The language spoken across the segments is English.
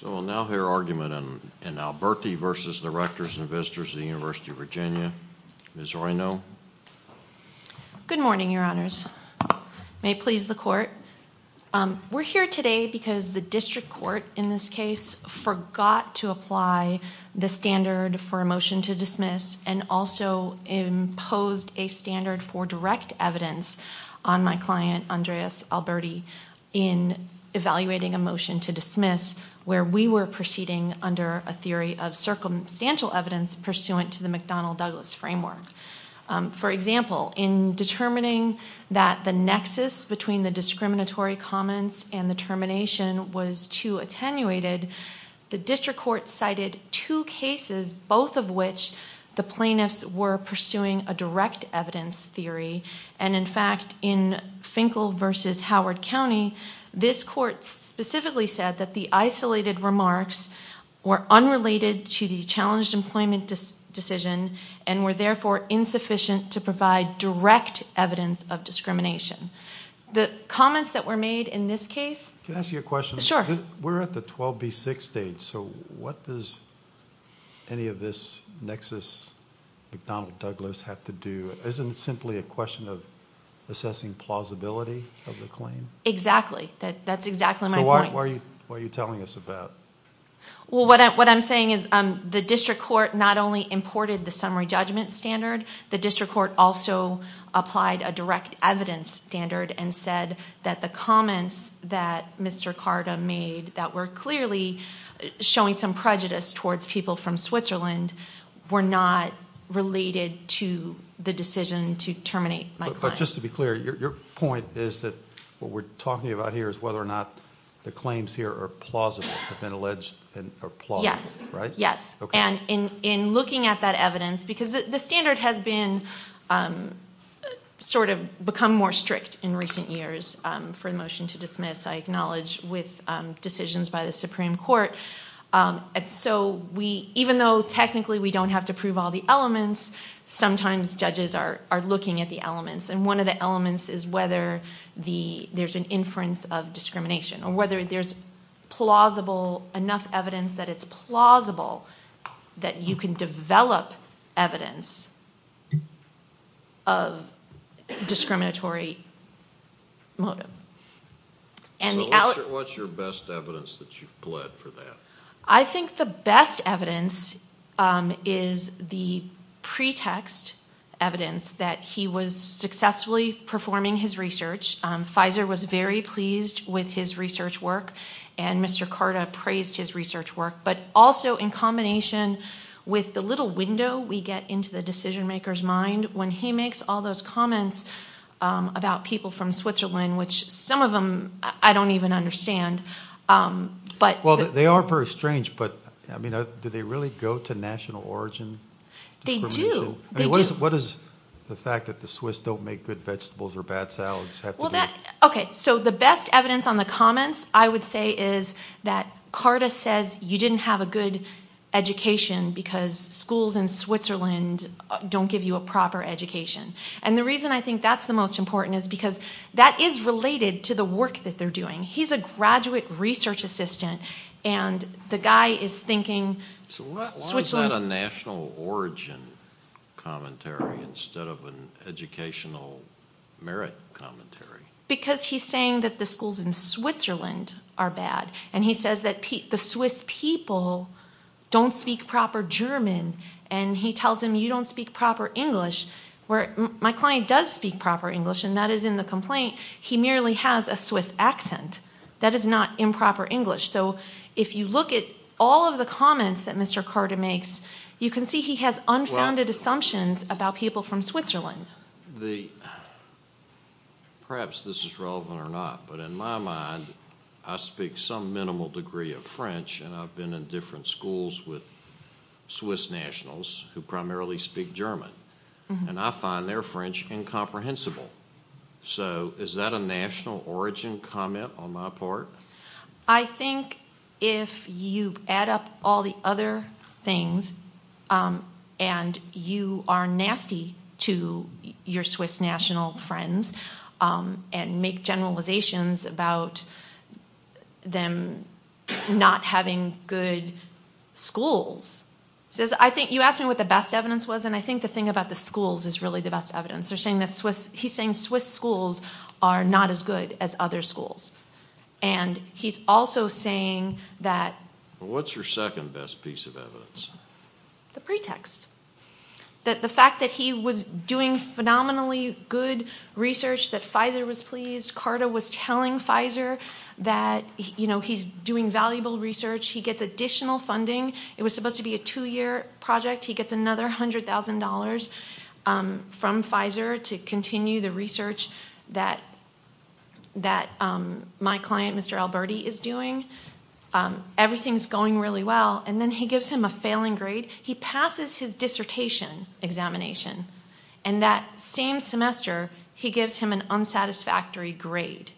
So we'll now hear argument in Alberti v. Rectors and Visitors of the University of Virginia. Ms. Reino. Good morning, Your Honors. May it please the Court. We're here today because the district court in this case forgot to apply the standard for a motion to dismiss and also imposed a standard for direct evidence on my client Andreas Alberti in evaluating a motion to dismiss where we were proceeding under a theory of circumstantial evidence pursuant to the McDonnell-Douglas framework. For example, in determining that the nexus between the discriminatory comments and the termination was too attenuated, the district court cited two cases, both of which the plaintiffs were pursuing a direct evidence theory. And in fact, in Finkel v. Howard County, this court specifically said that the isolated remarks were unrelated to the challenged employment decision and were therefore insufficient to provide direct evidence of discrimination. The comments that were made in this case... Can I ask you a question? Sure. We're at the 12B6 stage, so what does any of this nexus McDonnell-Douglas have to do? Isn't it simply a question of assessing plausibility of the claim? Exactly. That's exactly my point. So why are you telling us about it? Well, what I'm saying is the district court not only imported the summary judgment standard, the district court also applied a direct evidence standard and said that the comments that Mr. Carta made that were clearly showing some prejudice towards people from Switzerland were not related to the decision to terminate my client. But just to be clear, your point is that what we're talking about here is whether the claims here are plausible, have been alleged and are plausible, right? Yes. And in looking at that evidence, because the standard has become more strict in recent years for a motion to dismiss, I acknowledge, with decisions by the Supreme Court. So even though technically we don't have to prove all the elements, sometimes judges are looking at the elements. And one of the elements is whether there's an inference of discrimination, or whether there's enough evidence that it's plausible that you can develop evidence of discriminatory motive. What's your best evidence that you've pled for that? I think the best evidence is the research. Pfizer was very pleased with his research work, and Mr. Carta praised his research work. But also in combination with the little window we get into the decision maker's mind when he makes all those comments about people from Switzerland, which some of them I don't even understand. Well, they are very strange, but do they really go to national origin? They do. They do. What is the fact that the Swiss don't make good vegetables or bad salads? So the best evidence on the comments I would say is that Carta says you didn't have a good education because schools in Switzerland don't give you a proper education. And the reason I think that's the most important is because that is related to the work that they're doing. He's a graduate research assistant, and the guy is thinking... So why is that a national origin commentary instead of an educational merit commentary? Because he's saying that the schools in Switzerland are bad, and he says that the Swiss people don't speak proper German, and he tells them you don't speak proper English. My client does speak proper English, and that is in the complaint. He merely has a Swiss accent. That is not improper English. So if you look at all of the comments that Mr. Carta makes, you can see he has unfounded assumptions about people from Switzerland. Perhaps this is relevant or not, but in my mind, I speak some minimal degree of French, and I've been in different schools with Swiss Germans, and I find their French incomprehensible. So is that a national origin comment on my part? I think if you add up all the other things, and you are nasty to your Swiss national friends, and make generalizations about them not having good schools. You asked me what the best evidence was, and I think the thing about the schools is really the best evidence. He's saying Swiss schools are not as good as other schools, and he's also saying that... What's your second best piece of evidence? The pretext. The fact that he was doing phenomenally good research, that Pfizer was pleased. Carta was telling Pfizer that he's doing valuable research. He gets additional funding. It was supposed to be a two-year project. He gets another $100,000 from Pfizer to continue the research that my client, Mr. Alberti, is doing. Everything's going really well, and then he gives him a failing grade. He passes his dissertation examination, and that same semester, he gives him an unsatisfactory grade.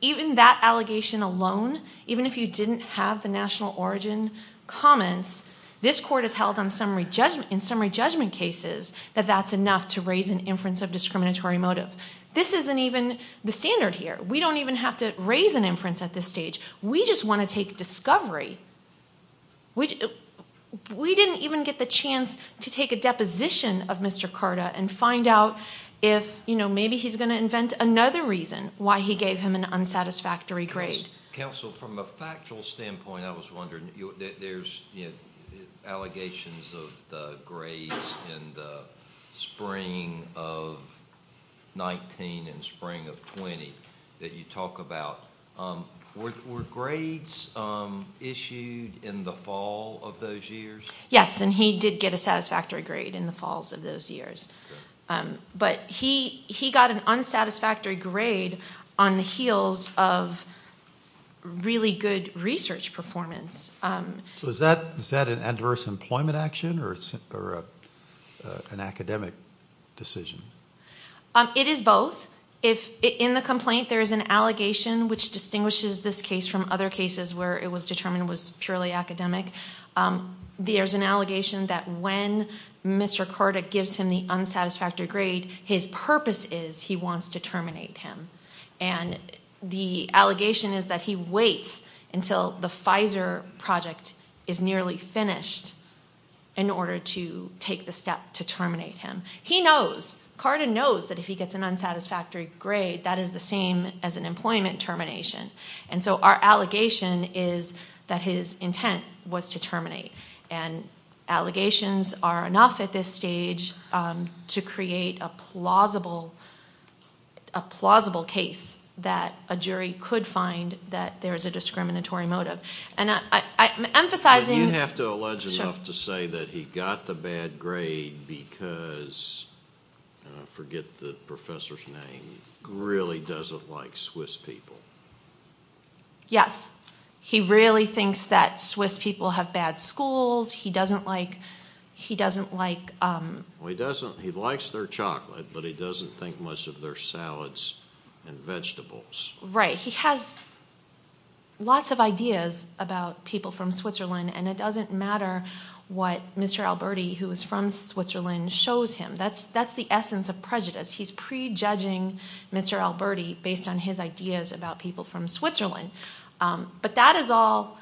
Even that allegation alone, even if you didn't have the national origin comments, this court has held in summary judgment cases that that's enough to raise an inference of discriminatory motive. This isn't even the standard here. We don't even have to raise an inference at this stage. We just want to take discovery. We didn't even get the chance to take a deposition of Mr. Carta and find out if maybe he's going to invent another reason why he gave him an unsatisfactory grade. Counsel, from a factual standpoint, I was wondering, there's allegations of the grades in the spring of 19 and spring of 20 that you talk about. Were grades issued in the fall of those years? Yes, and he did get a satisfactory grade in the fall of those years. He got an unsatisfactory grade on the heels of really good research performance. Is that an adverse employment action or an academic decision? It is both. In the complaint, there is an allegation which distinguishes this case from other cases where it was determined it was purely academic. There's an allegation that when Mr. Carta gives him the unsatisfactory grade, his purpose is he wants to terminate him. The allegation is that he waits until the Pfizer project is nearly finished in order to take the step to terminate him. He knows, Carta knows, that if he gets an unsatisfactory grade, that is the same as an employment termination. Our allegation is that his intent was to terminate. Allegations are enough at this stage to create a plausible case that a jury could find that there is a discriminatory motive. You have to allege enough to say that he got the bad grade because, I forget the professor's name, he really doesn't like Swiss people. He really thinks that Swiss people have bad schools. He likes their chocolate, but he doesn't think much of their salads and vegetables. He has lots of ideas about people from Switzerland. It doesn't matter what Mr. Alberti, who is Mr. Alberti, based on his ideas about people from Switzerland, but that is all,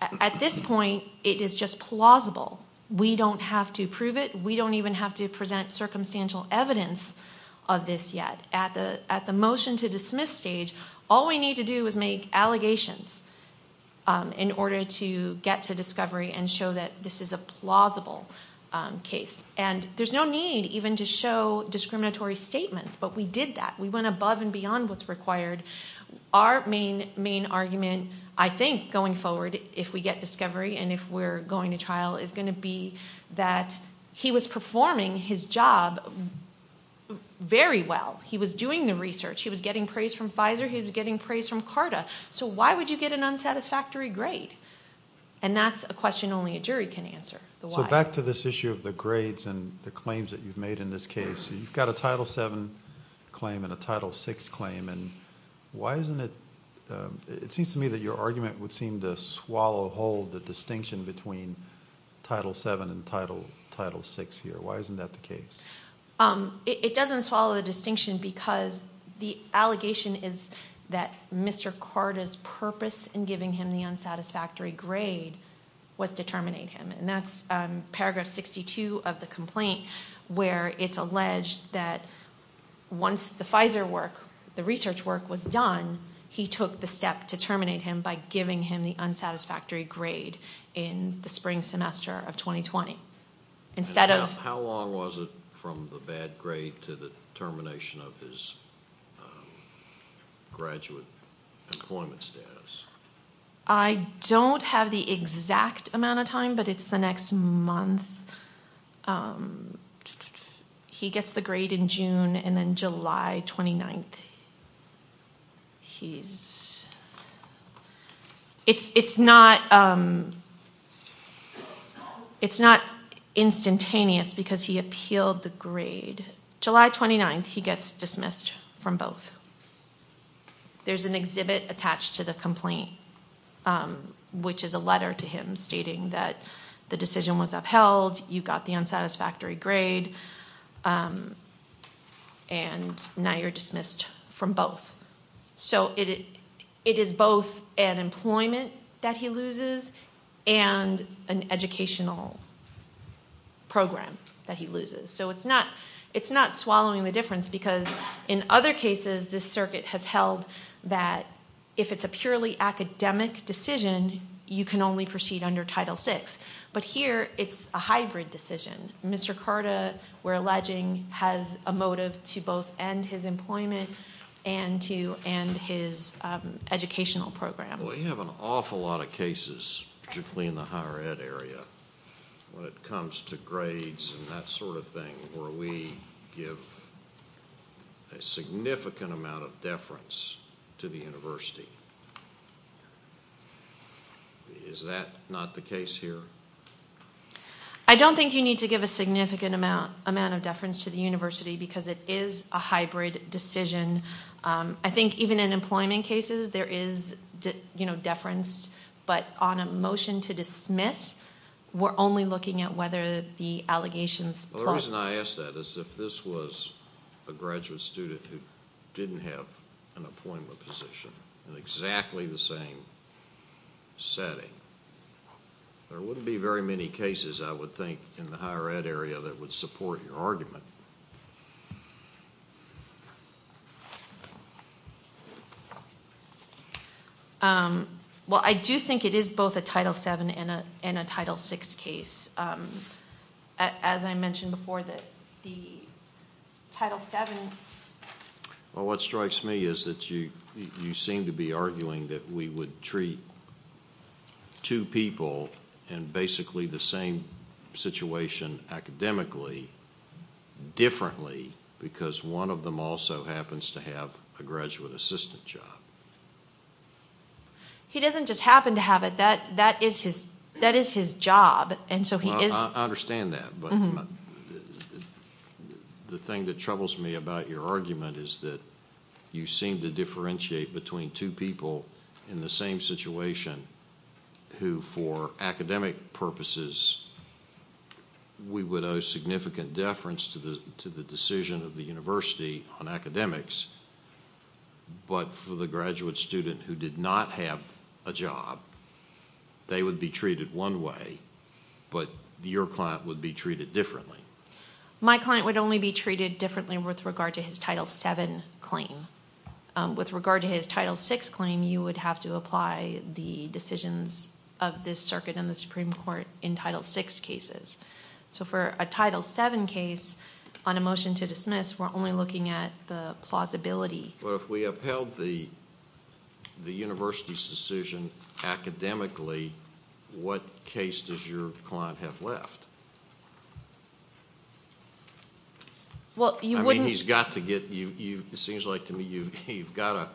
at this point, it is just plausible. We don't have to prove it. We don't even have to present circumstantial evidence of this yet. At the motion to dismiss stage, all we need to do is make allegations in order to get to discovery and show that this is a plausible case. There's no need even to show discriminatory statements, but we did that. We went above and beyond what's required. Our main argument, I think, going forward, if we get discovery and if we're going to trial, is going to be that he was performing his job very well. He was doing the research. He was getting praise from Pfizer. He was getting praise from CARTA. Why would you get an unsatisfactory grade? That's a question only a jury can answer, the why. Back to this issue of the grades and the claims that you've made in this case, you've got a Title VII claim and a Title VI claim. It seems to me that your argument would seem to swallow whole the distinction between Title VII and Title VI here. Why isn't that the case? It doesn't swallow the distinction because the allegation is that Mr. CARTA's purpose in giving him the unsatisfactory grade was to terminate him. That's paragraph 62 of the complaint where it's alleged that once the Pfizer work, the research work, was done, he took the step to terminate him by giving him the unsatisfactory grade in the spring semester of 2020. How long was it from the bad grade to the termination of his graduate employment status? I don't have the exact amount of time, but it's the next month. He gets the grade in June and then July 29th. It's not instantaneous because he appealed the grade. July 29th, he gets dismissed from both. There's an exhibit attached to the complaint, which is a letter to him stating that the decision was upheld. You got the unsatisfactory grade. Now you're dismissed from both. It is both an employment that he loses and an educational program that he loses. It's not swallowing the difference because in other cases, this circuit has held that if it's a purely academic decision, you can only proceed under Title VI. Here, it's a hybrid decision. Mr. CARTA, we're alleging, has a motive to both end his employment and to end his educational program. We have an awful lot of cases, particularly in the higher ed area, when it comes to grades and that sort of thing, where we give a significant amount of deference to the university. Is that not the case here? I don't think you need to give a significant amount of deference to the university because it is a hybrid decision. I think even in employment cases, there is deference, but on a motion to dismiss, we're only looking at whether the allegations... The reason I ask that is if this was a graduate student who didn't have an employment position in exactly the same setting, there wouldn't be very many cases, I would think, in the higher ed area that would support your argument. Well, I do think it is both a Title VII and a Title VI case. As I mentioned before, the Title VII... What strikes me is that you seem to be arguing that we would treat two people in basically the same situation academically differently because one of them also happens to have a graduate assistant job. He doesn't just happen to have it. That is his job. I understand that, but the thing that troubles me about your argument is that you seem to argue that in some cases, we would owe significant deference to the decision of the university on academics, but for the graduate student who did not have a job, they would be treated one way, but your client would be treated differently. My client would only be treated differently with regard to his Title VII claim. With regard to his Title VI claim, you would have to apply the decisions of this circuit and the Supreme Court in Title VI cases. For a Title VII case, on a motion to dismiss, we're only looking at the plausibility. If we upheld the university's decision academically, what case does your client have left? He's got to get... It seems like to me you've got to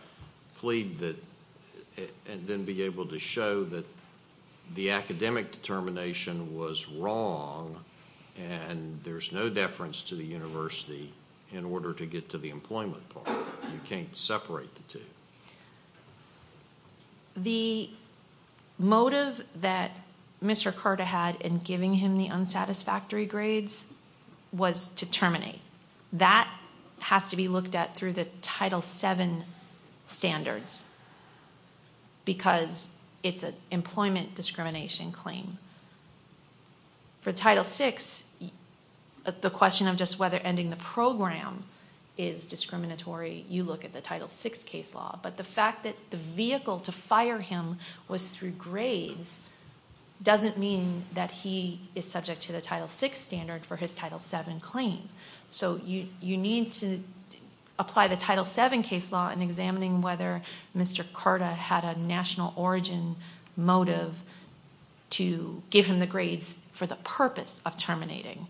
plead and then be able to show that the academic determination was wrong and there's no deference to the university in order to get to the employment part. You can't separate the two. The motive that Mr. Carter had in giving him the unsatisfactory grades was to terminate. That has to be looked at through the Title VII standards because it's an employment discrimination claim. For Title VI, the question of just whether ending the program is discriminatory, you look at the Title VI case law, but the fact that the vehicle to fire him was through grades doesn't mean that he is subject to the Title VI standard for his Title VII claim. You need to apply the Title VII case law in examining whether Mr. Carter had a national origin motive to give him the grades for the purpose of terminating.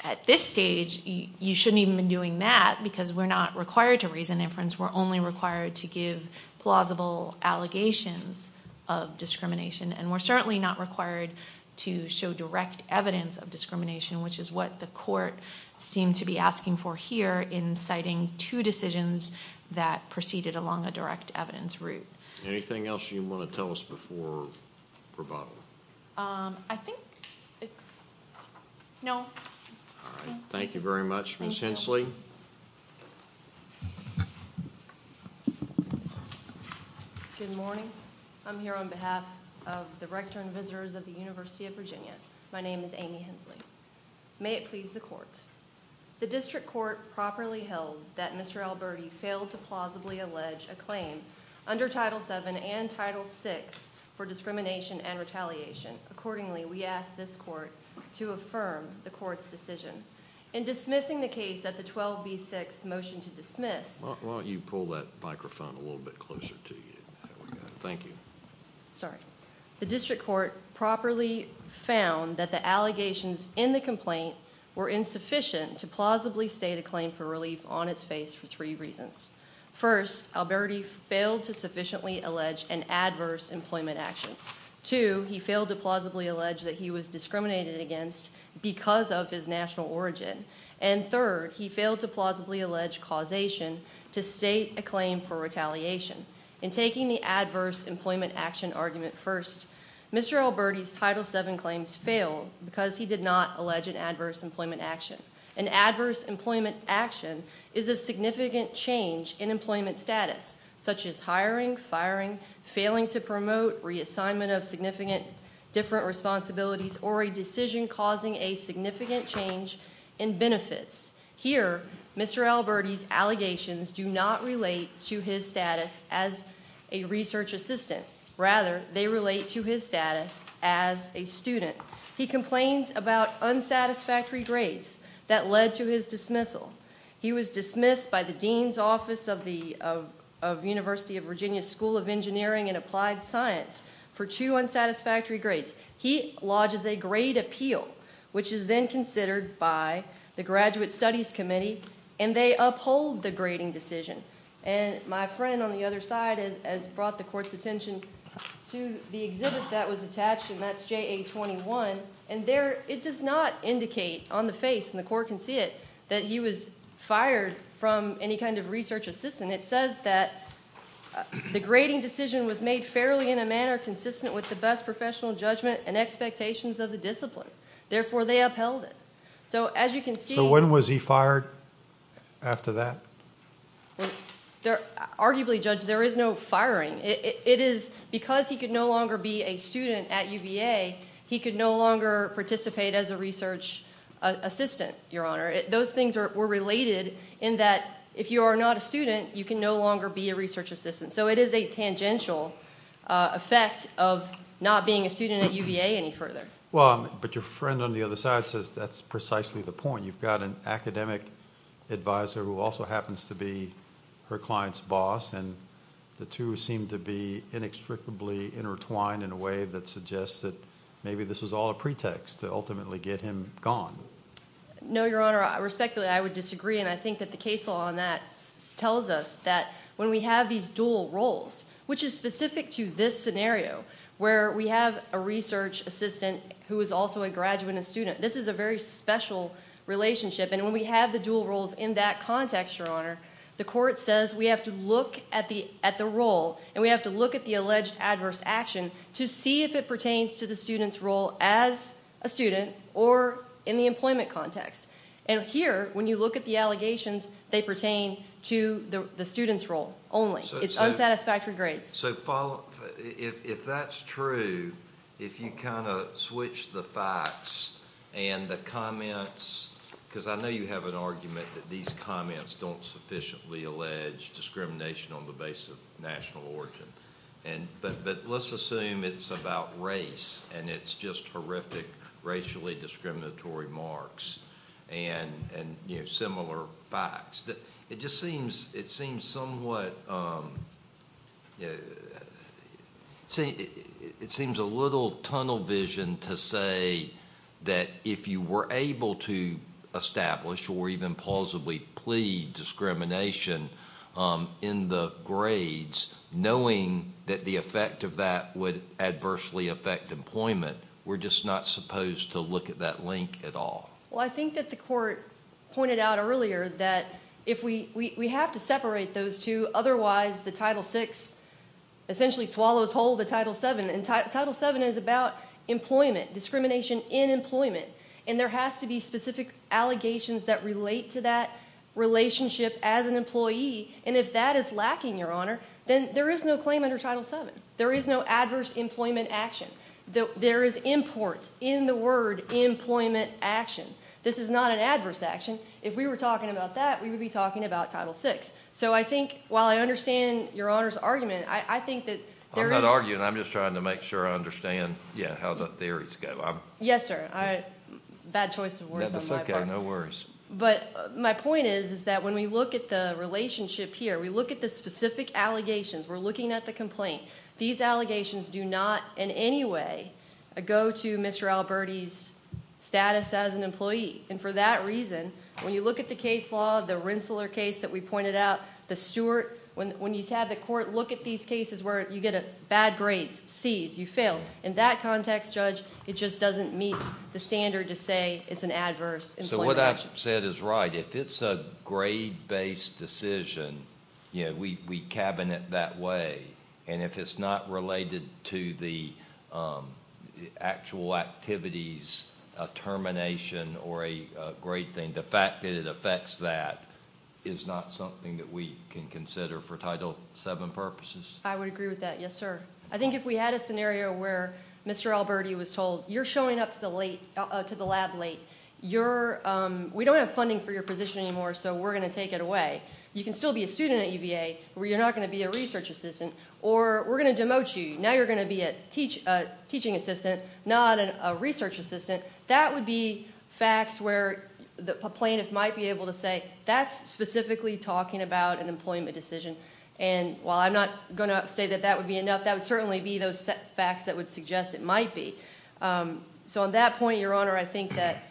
At this stage, you shouldn't even be doing that because we're not required to reason inference. We're only required to give plausible allegations of discrimination. We're certainly not required to show direct evidence of discrimination, which is what the court seemed to be asking for here in citing two decisions that proceeded along a direct evidence route. Anything else you want to tell us before rebuttal? I think no. Thank you very much. Ms. Hensley? Good morning. I'm here on behalf of the Rector and visitors of the University of Virginia. My name is Amy Hensley. May it please the District Court properly held that Mr. Alberti failed to plausibly allege a claim under Title VII and Title VI for discrimination and retaliation. Accordingly, we ask this court to affirm the court's decision. In dismissing the case at the 12B6 motion to dismiss... Why don't you pull that microphone a little bit closer to you? Thank you. The District Court properly found that the allegations in the complaint were insufficient to plausibly state a claim for relief on its face for three reasons. First, Alberti failed to sufficiently allege an adverse employment action. Two, he failed to plausibly allege that he was discriminated against because of his national origin. And third, he failed to plausibly allege causation to state a claim for retaliation. In taking the adverse employment action argument first, Mr. Alberti's Title VII claims failed because he did not allege an adverse employment action. An adverse employment action is a significant change in employment status, such as hiring, firing, failing to promote, reassignment of significant different responsibilities, or a decision causing a significant change in benefits. Here, Mr. Alberti's allegations do not relate to his status as a research assistant. Rather, they relate to his status as a student. He complains about unsatisfactory grades that led to his dismissal. He was dismissed by the Dean's Office of the University of Virginia School of Engineering and Applied Science for two unsatisfactory grades. He lodges a grade appeal, which is then considered by the Graduate Studies Committee, and they uphold the grading decision. And my friend on the other side has brought the Court's attention to the exhibit that was attached, and that's JA-21. And there, it does not indicate on the face, and the Court can see it, that he was fired from any kind of research assistant. It says that the grading decision was made fairly in a manner consistent with the best professional judgment and expectations of the discipline. Therefore, they upheld it. So, as you can see... So, when was he fired after that? Arguably, Judge, there is no firing. It is because he could no longer be a student at UVA, he could no longer participate as a research assistant, Your Honor. Those things were related in that if you are not a student, you can no longer be a research assistant. So, it is a tangential effect of not being a student at UVA any further. Well, but your friend on the other side says that's precisely the point. You've got an academic advisor who also happens to be her client's boss, and the two seem to be inextricably intertwined in a way that suggests that maybe this was all a pretext to ultimately get him gone. No, Your Honor. Respectfully, I would disagree, and I think that the case law on that tells us that when we have these dual roles, which is specific to this scenario, where we have a research assistant who is also a graduate and student, this is a very special relationship, and when we have the dual roles in that context, Your Honor, the court says we have to look at the role, and we have to look at the alleged adverse action to see if it pertains to the student's role as a student or in the employment context. And here, when you look at the allegations, they pertain to the student's role only. It's unsatisfactory grades. So if that's true, if you kind of switch the facts and the comments, because I know you have an argument that these comments don't sufficiently allege discrimination on the base of national origin, but let's assume it's about race, and it's just horrific, racially discriminatory marks, and similar facts. It just seems, it seems somewhat, you know, I mean, it seems a little tunnel vision to say that if you were able to establish or even plausibly plead discrimination in the grades, knowing that the effect of that would adversely affect employment, we're just not supposed to look at that link at all. Well, I think that the court pointed out earlier that if we, we have to separate those two, otherwise the Title VI essentially swallows whole the Title VII, and Title VII is about employment, discrimination in employment, and there has to be specific allegations that relate to that relationship as an employee, and if that is lacking, Your Honor, then there is no claim under Title VII. There is no adverse employment action. There is import in the word employment action. This is not an adverse action. If we were talking about that, we would be talking about Title VI. So, I think, while I understand Your Honor's argument, I think that there is... I'm not arguing. I'm just trying to make sure I understand, yeah, how the theories go. Yes, sir. Bad choice of words on my part. That's okay. No worries. But my point is, is that when we look at the relationship here, we look at the specific allegations, we're looking at the complaint, these allegations do not in any way go to Mr. Alberti's status as an employee, and for that reason, when you look at the case law, the Rensselaer case that we pointed out, the Stewart, when you have the court look at these cases where you get bad grades, C's, you fail, in that context, Judge, it just doesn't meet the standard to say it's an adverse employment action. So, what I've said is right. If it's a grade-based decision, we cabinet that way, and if it's not related to the actual activities, a termination, or a grade thing, the fact that it affects that is not something that we can consider for Title VII purposes. I would agree with that. Yes, sir. I think if we had a scenario where Mr. Alberti was told, you're showing up to the lab late, we don't have funding for your position anymore, so we're going to take it away, you can still be a student at UVA, but you're not going to be a research assistant, or we're going to demote you, now you're going to be a teaching assistant, not a research assistant, that would be facts where the plaintiff might be able to say, that's specifically talking about an employment decision, and while I'm not going to say that that would be enough, that would certainly be those facts that would suggest it might be. So, on that point, Your Honor, I think that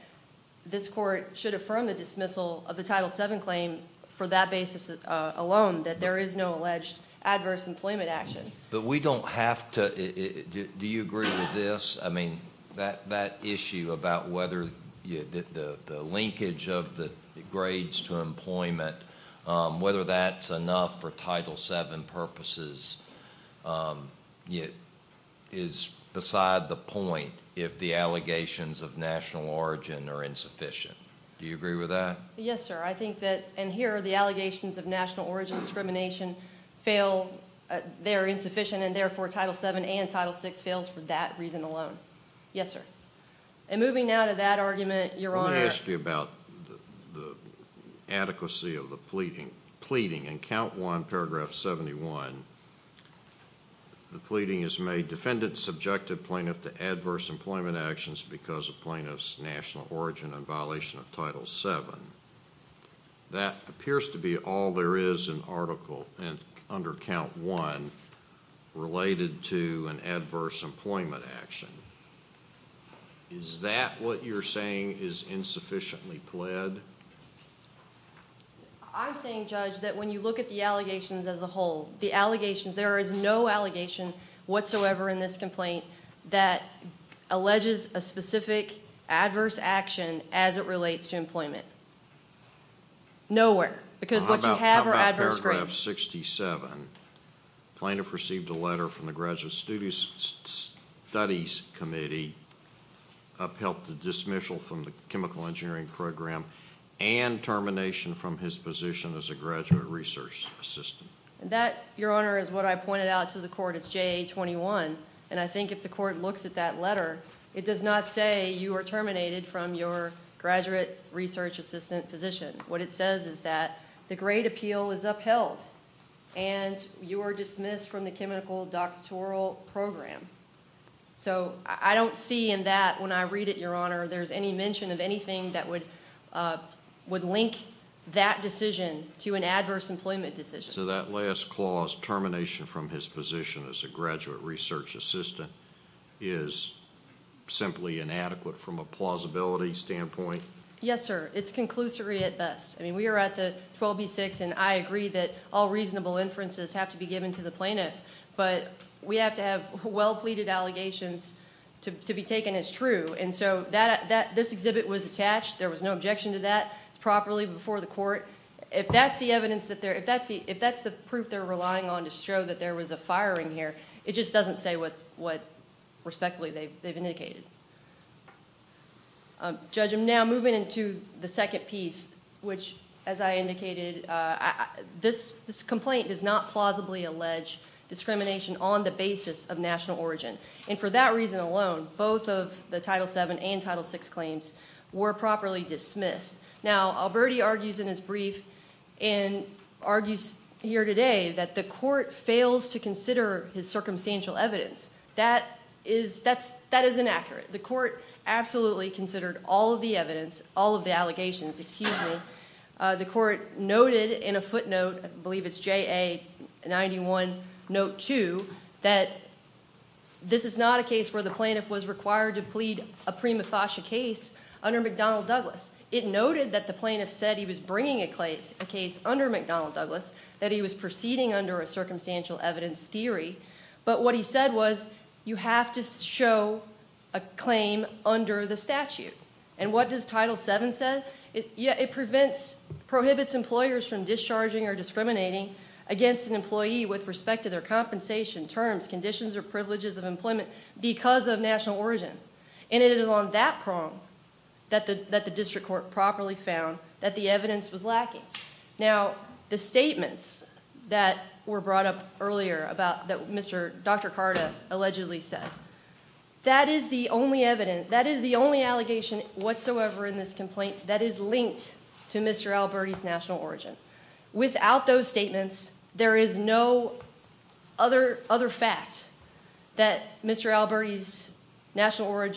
this court should affirm the dismissal of the Title VII claim for that basis alone, that there is no alleged adverse employment action. But we don't have to, do you agree with this? I mean, that issue about whether the linkage of the grades to employment, whether that's enough for Title VII purposes, is beside the point if the allegations of national origin are insufficient. Do you agree with that? Yes, sir. I think that, and here are the allegations of national origin discrimination fail, they're insufficient, and therefore Title VII and that reason alone. Yes, sir. And moving now to that argument, Your Honor. Let me ask you about the adequacy of the pleading. In count one, paragraph 71, the pleading is made defendant subjected plaintiff to adverse employment actions because of plaintiff's national origin and violation of Title VII. That appears to be all there is in article under count one related to an adverse employment action. Is that what you're saying is insufficiently pled? I'm saying, Judge, that when you look at the allegations as a whole, the allegations, there is no allegation whatsoever in this complaint that alleges a specific adverse action as it relates to employment. Nowhere. Because what you have are adverse grades. How about paragraph 67? Plaintiff received a letter from the Graduate Studies Committee upheld the dismissal from the chemical engineering program and termination from his position as a graduate research assistant. Your Honor, is what I pointed out to the court. It's JA-21, and I think if the court looks at that letter, it does not say you are terminated from your graduate research assistant position. What it says is that the grade appeal is upheld and you are dismissed from the chemical doctoral program. I don't see in that when I read it, Your Honor, there's any mention of anything that would link that decision to an adverse employment decision. That last clause, termination from his position as a graduate research assistant, is simply inadequate from a plausibility standpoint? Yes, sir. It's conclusory at best. We are at the 12B-6, and I agree that all reasonable inferences have to be given to the plaintiff, but we have to have well-pleaded allegations to be taken as true. This exhibit was attached. There was no objection to that. It's properly before the court. If that's the evidence, if that's the proof they're relying on to show that there was a firing here, it just doesn't say what, respectfully, they've indicated. Judge, I'm now moving into the second piece, which, as I indicated, this complaint does not plausibly allege discrimination on the basis of national origin, and for that reason alone, both of the Title VII and Title VI claims were properly dismissed. Now, Alberti argues in his brief, and argues here today, that the court fails to consider his circumstantial evidence. That is inaccurate. The court absolutely considered all of the evidence, all of the allegations. The court noted in a footnote, I believe it's JA-91-2, that this is not a case where the plaintiff was required to plead a prima facie case under McDonnell Douglas. It noted that the plaintiff said he was bringing a case under McDonnell Douglas, that he was proceeding under a circumstantial evidence theory, but what he said was, you have to show a claim under the statute. What does Title VII say? It prohibits employers from discharging or discriminating against an employee with respect to their compensation, terms, conditions, or privileges of employment because of national origin. It is on that prong that the district court properly found that the evidence was lacking. Now, the statements that were brought up earlier, that Dr. Carta allegedly said, that is the only evidence, that is the only allegation whatsoever in this complaint that is linked to Mr. Alberti's national origin. Without those statements, there is no other fact that Mr. Alberti's national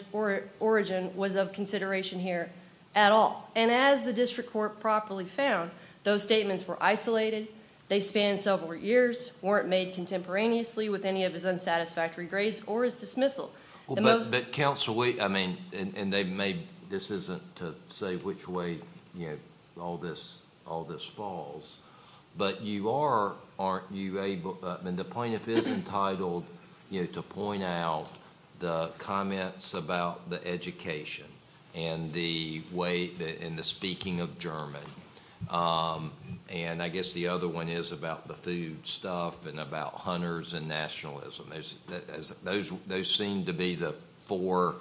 origin was of consideration here at all. As the district court properly found, those statements were isolated, they spanned several years, weren't made contemporaneously with any of his unsatisfactory grades or his dismissal. But, Counsel, this isn't to say which way all this falls, but the plaintiff is entitled to point out the comments about the education and the speaking of German. I guess the other one is about the food stuff and about hunters and nationalism. Those seem to be the four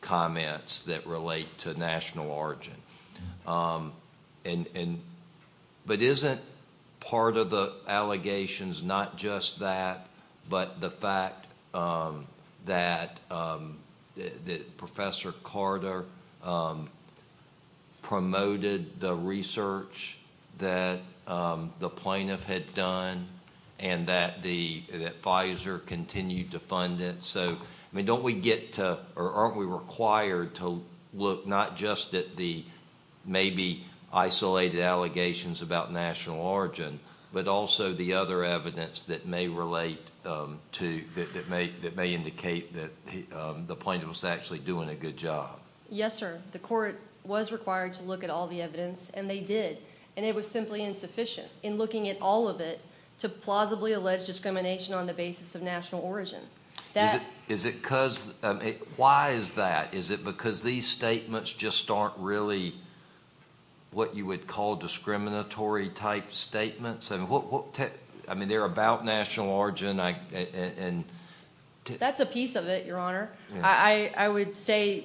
comments that relate to national origin. But isn't part of the allegations not just that, but the fact that Professor Carta promoted the research that the plaintiff had done, and that Pfizer continued to fund it? Aren't we required to look not just at the maybe two, that may indicate that the plaintiff was actually doing a good job? Yes, sir. The court was required to look at all the evidence, and they did. And it was simply insufficient in looking at all of it to plausibly allege discrimination on the basis of national origin. Is it because, why is that? Is it because these statements just aren't really what you would call discriminatory-type statements? I mean, they're about national origin. That's a piece of it, Your Honor. I would say,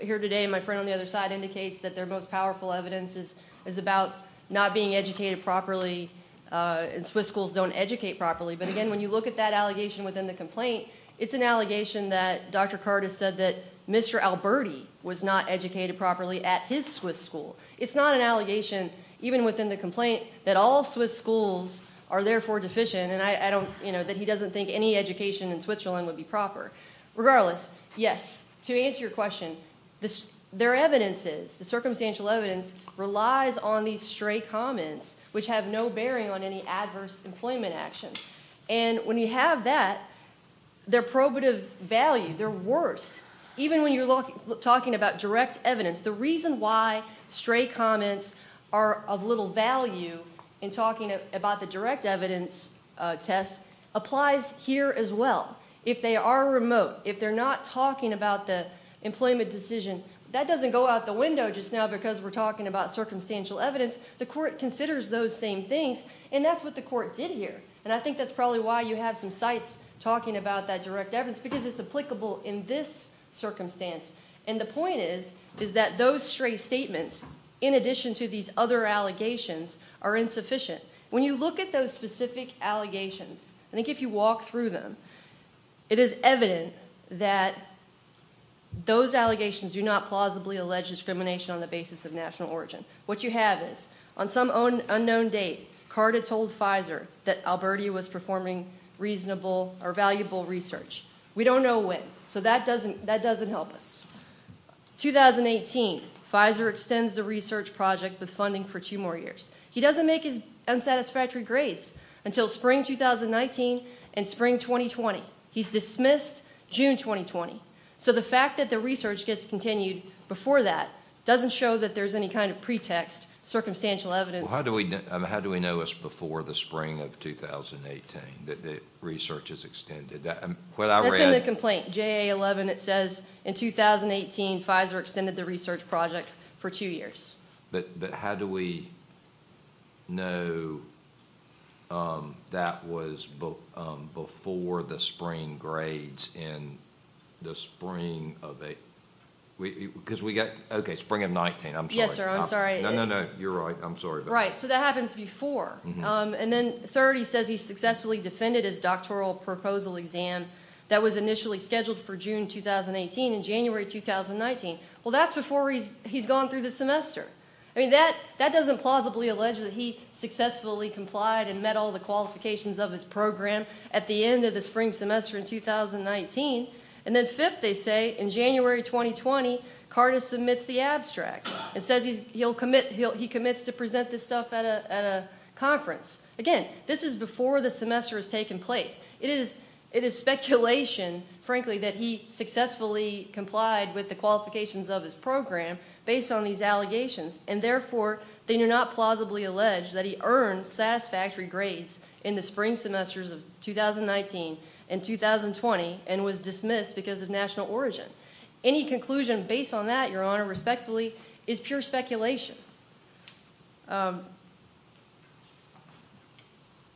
here today, my friend on the other side indicates that their most powerful evidence is about not being educated properly, and Swiss schools don't educate properly. But again, when you look at that allegation within the complaint, it's an allegation that Dr. Carta said that Mr. Alberti was not educated properly at his Swiss school. It's not an allegation, even within the complaint, that all Swiss schools are therefore deficient, and that he doesn't think any education in Switzerland would be proper. Regardless, yes, to answer your question, their evidence is, the circumstantial evidence relies on these stray comments, which have no bearing on any adverse employment action. And when you have that, their probative value, their worth, even when you're talking about direct evidence, the reason why stray comments are of little value in talking about the direct evidence test applies here as well. If they are remote, if they're not talking about the employment decision, that doesn't go out the window just now because we're talking about circumstantial evidence. The court considers those same things, and that's what the court did here. And I think that's probably why you have some sites talking about that direct evidence, because it's applicable in this circumstance. And the point is, is that those stray statements, in addition to these other allegations, are insufficient. When you look at those specific allegations, I think if you walk through them, it is evident that those allegations do not plausibly allege discrimination on the basis of national origin. What you have is, on some unknown date, Carta told Pfizer that Alberti was performing reasonable or valuable research. We don't know when, so that doesn't help us. 2018, Pfizer extends the research project with funding for two more years. He doesn't make his unsatisfactory grades until spring 2019 and spring 2020. He's dismissed June 2020. So the fact that the research gets continued before that doesn't show that there's any kind of pretext, circumstantial evidence. How do we know it's before the spring of 2018, that the research is extended? That's in the complaint, JA11. It says, in 2018, Pfizer extended the research project for two years. But how do we know that was before the spring grades in the spring of... Okay, spring of 2019. Right, so that happens before. And then third, he says he successfully defended his doctoral proposal exam that was initially scheduled for June 2018 and January 2019. Well, that's before he's gone through the semester. I mean, that doesn't plausibly allege that he successfully complied and met all the qualifications of his program at the end of the spring semester in 2019. And then fifth, they say, in January 2020, Carta submits the abstract. It says he commits to present this stuff at a conference. Again, this is before the semester has taken place. It is speculation, frankly, that he successfully complied with the qualifications of his program based on these allegations, and therefore they do not plausibly allege that he earned satisfactory grades in the spring semesters of 2019 and 2020 and was dismissed because of national origin. Any conclusion based on that, Your Honor, respectfully, is pure speculation.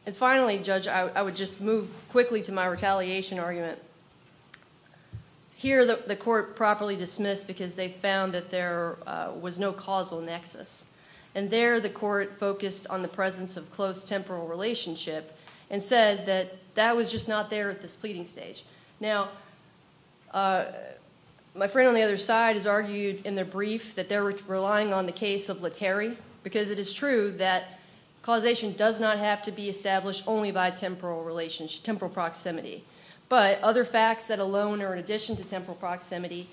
And finally, Judge, I would just move quickly to my retaliation argument. Here, the court properly dismissed because they found that there was no causal nexus. And there, the court focused on the presence of close temporal relationship and said that that was just not there at this pleading stage. Now, my friend on the other side has argued in the brief that they're relying on the case of Letary because it is true that causation does not have to be established only by temporal proximity. But other facts that alone or in addition to temporal proximity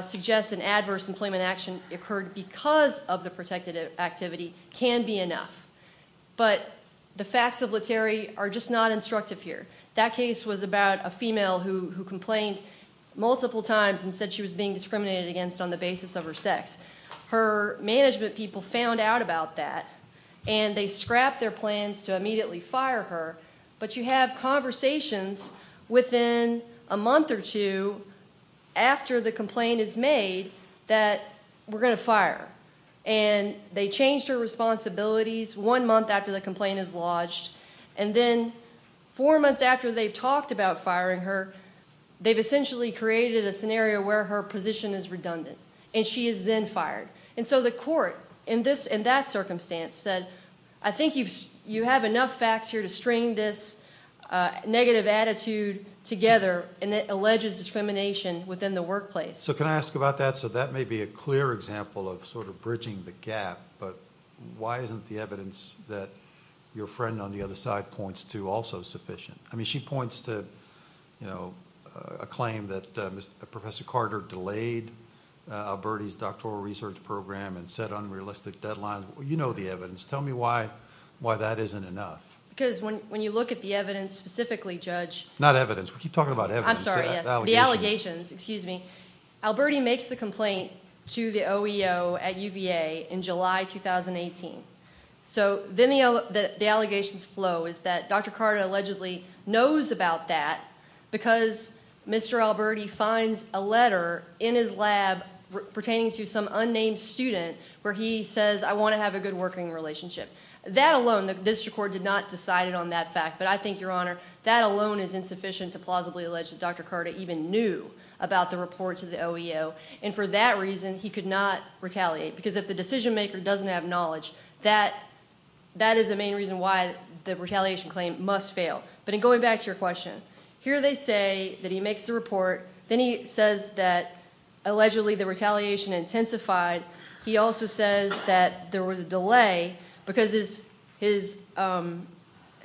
suggest an adverse employment action occurred because of the protected activity can be enough. But the facts of Letary are just not instructive here. That case was about a female who complained multiple times and said she was being discriminated against on the basis of her sex. Her management people found out about that, and they scrapped their plans to immediately fire her. But you have conversations within a month or two after the complaint is made that we're going to fire. And they changed her responsibilities one month after the complaint is lodged. And then four months after they've talked about firing her, they've essentially created a scenario where her position is redundant. And she is then fired. And so the court in that circumstance said, I think you have enough facts here to string this negative attitude together and it alleges discrimination within the workplace. So can I ask about that? So that may be a clear example of sort of bridging the gap. But why isn't the evidence that your friend on the other side points to also sufficient? I mean, she points to, you know, a claim that Professor Carter delayed Alberti's doctoral research program and set unrealistic deadlines. You know the evidence. Tell me why that isn't enough. Because when you look at the evidence specifically, Judge... Not evidence. We keep talking about evidence. I'm sorry, yes. The allegations, excuse me. Alberti makes the complaint to the OEO at UVA in July 2018. So then the allegations flow is that Dr. Carter allegedly knows about that because Mr. Alberti finds a letter in his lab pertaining to some unnamed student where he says, I want to have a good working relationship. That alone, the district court did not decide it on that fact. But I think, Your Honor, that alone is insufficient to plausibly allege that Dr. Carter even knew about the report to the OEO. And for that reason he could not retaliate. Because if the decision maker doesn't have knowledge, that is the main reason why the retaliation claim must fail. But in going back to your question, here they say that he makes the report. Then he says that allegedly the retaliation intensified. He also says that there was a delay because his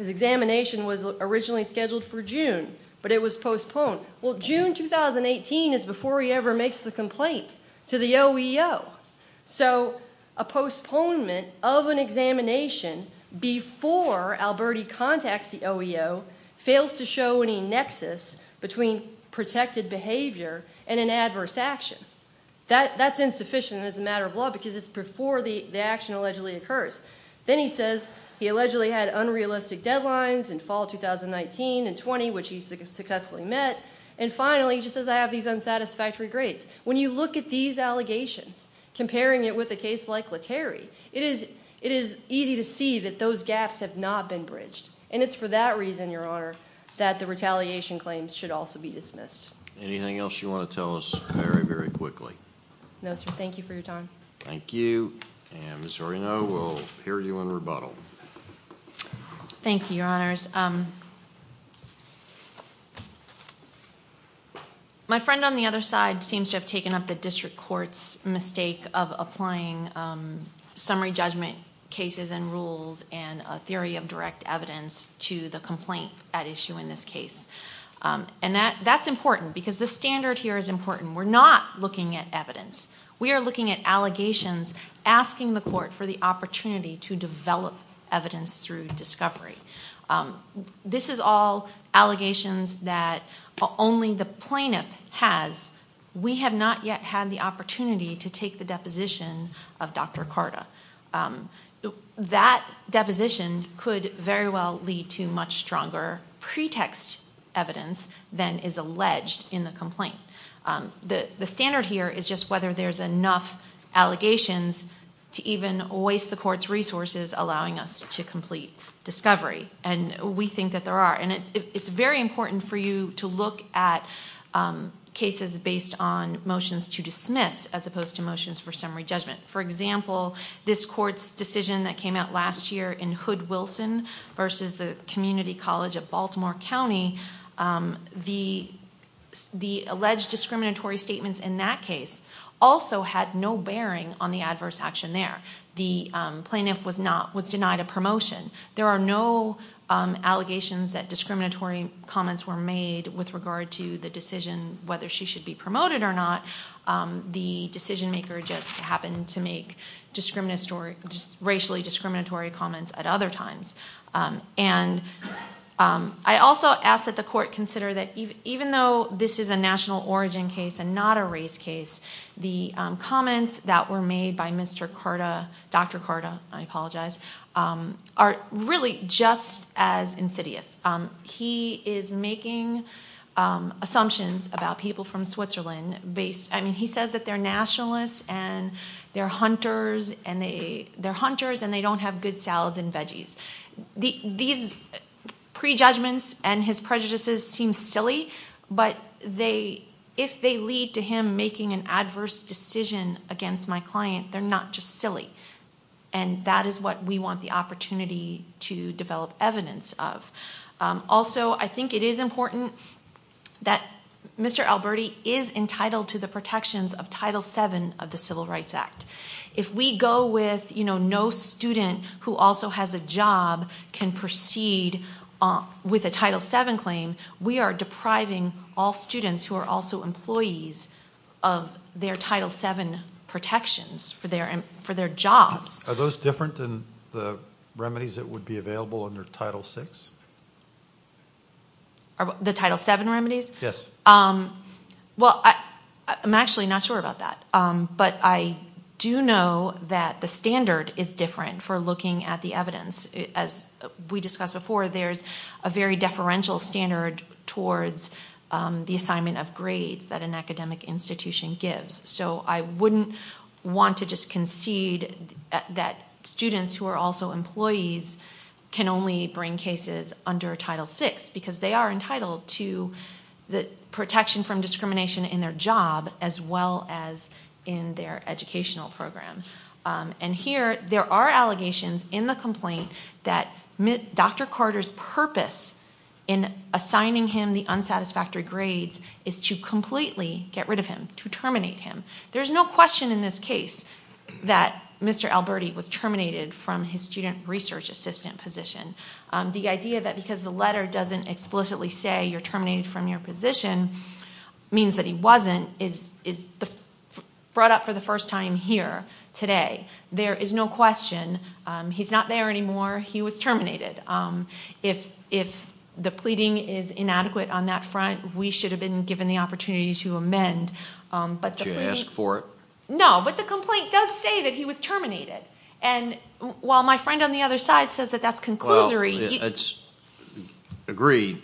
examination was originally scheduled for June, but it was postponed. Well, June 2018 is before he ever makes the complaint to the OEO. So a postponement of an examination before Alberti contacts the OEO fails to show any nexus between protected behavior and an adverse action. That's insufficient as a matter of law because it's before the action allegedly occurs. Then he says he allegedly had unrealistic deadlines in fall 2019 and 20, which he successfully met. And finally, he just says, I have these unsatisfactory grades. When you look at these allegations, comparing it with a case like Letary, it is easy to see that those gaps have not been bridged. And it's for that reason, Your Honor, that the retaliation claims should also be dismissed. Anything else you want to tell us very, very quickly? No, sir. Thank you for your time. Thank you. And Ms. Zorino will hear you in rebuttal. Thank you, Your Honors. My friend on the other side seems to have taken up the district court's mistake of applying summary judgment cases and rules and a theory of direct evidence to the complaint at issue in this case. And that's important because the standard here is important. We're not looking at evidence. We are looking at allegations asking the court for the opportunity to develop evidence through discovery. This is all allegations that only the plaintiff has. We have not yet had the opportunity to take the deposition of Dr. Carta. That deposition could very well lead to much stronger pretext evidence than is The standard here is just whether there's enough allegations to even waste the court's resources allowing us to complete discovery. And we think that there are. And it's very important for you to look at cases based on motions to dismiss as opposed to motions for summary judgment. For example, this court's decision that came out last year in Hood-Wilson versus the Community College of Baltimore County, the alleged discriminatory statements in that case also had no bearing on the adverse action there. The plaintiff was denied a promotion. There are no allegations that discriminatory comments were made with regard to the decision whether she should be promoted or not. The decision maker just happened to make racially discriminatory comments at other times. I also ask that the court consider that even though this is a national origin case and not a race case, the comments that were made by Dr. Carta are really just as insidious. He is making assumptions about people from and veggies. These prejudgments and his prejudices seem silly, but if they lead to him making an adverse decision against my client, they're not just silly. And that is what we want the opportunity to develop evidence of. Also, I think it is important that Mr. Alberti is who also has a job can proceed with a Title VII claim. We are depriving all students who are also employees of their Title VII protections for their jobs. Are those different than the remedies that would be available under Title VI? The Title VII remedies? I'm actually not sure about that, but I do know that the standard is different for looking at the evidence. As we discussed before, there's a very deferential standard towards the assignment of grades that an academic institution gives. So I wouldn't want to just concede that students who are also employees can only bring cases under Title VI because they are entitled to the protection from discrimination in their job as well as in their educational program. And here, there are allegations in the complaint that Dr. Carter's purpose in assigning him the unsatisfactory grades is to completely get rid of him, to terminate him. There's no question in this case that Mr. Alberti was terminated from his student research assistant position. The idea that because the letter doesn't explicitly say you're terminated from your position means that he wasn't is brought up for the first time here today. There is no question. He's not there anymore. He was terminated. If the pleading is inadequate on that front, we should have been given the opportunity to amend. Did you ask for it? No, but the complaint does say that he was terminated. And while my friend on the other side says that that's conclusory... Agreed.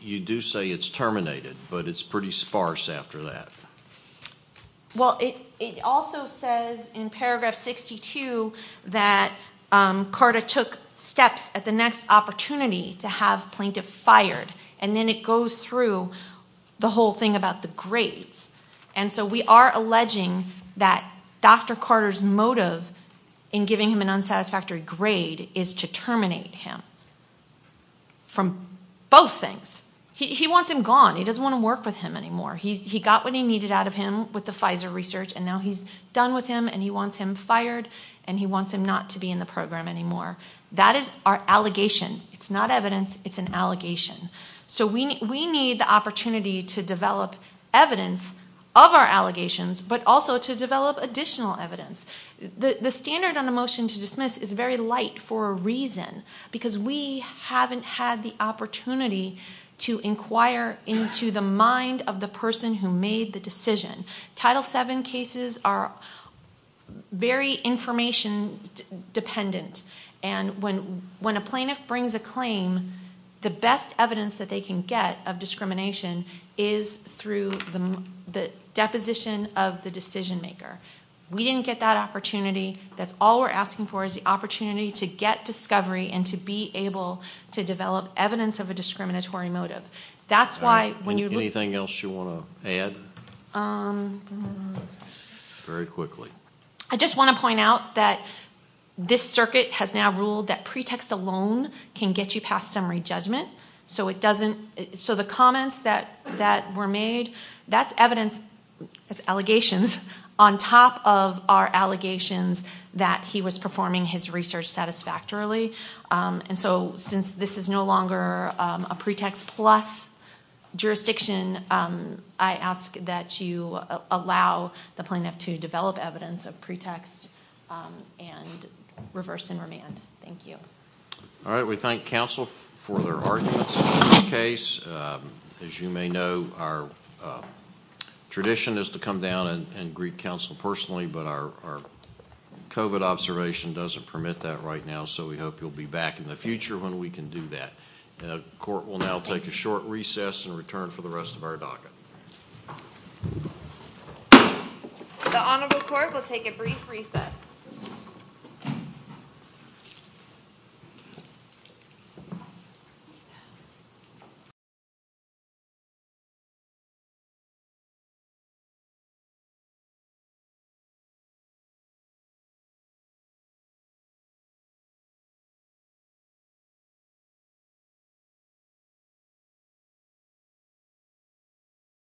You do say it's terminated, but it's pretty sparse after that. Well, it also says in paragraph 62 that Carter took steps at the next opportunity to have plaintiff fired. And then it goes through the whole thing about the grades. And so we are alleging that Dr. Carter's motive in giving him an unsatisfactory grade is to terminate him from both things. He wants him gone. He doesn't want to work with him anymore. He got what he needed out of him with the Pfizer research, and now he's done with him, and he wants him fired, and he wants him not to be in the program anymore. That is our allegation. It's not evidence. It's an allegation. So we need the opportunity to develop evidence of our allegations, but also to develop additional evidence. The standard on a motion to dismiss is very light for a reason, because we haven't had the opportunity to inquire into the mind of the person who made the decision. Title VII cases are very information dependent, and when a plaintiff brings a claim, the best evidence that they can get of discrimination is through the deposition of the decision maker. We didn't get that opportunity. That's all we're asking for is the opportunity to get discovery and to be able to develop evidence of a discriminatory motive. That's why when you look... Anything else you want to add? Very quickly. I just want to point out that this circuit has now ruled that pretext alone can get you fired. That's evidence, that's allegations, on top of our allegations that he was performing his research satisfactorily. Since this is no longer a pretext plus jurisdiction, I ask that you allow the plaintiff to develop evidence of pretext and reverse and remand. Thank you. We thank counsel for their arguments in this case. As you may know, our tradition is to come down and greet counsel personally, but our COVID observation doesn't permit that right now, so we hope you'll be back in the future when we can do that. The court will now take a short recess and return for the rest of our docket. Thank you.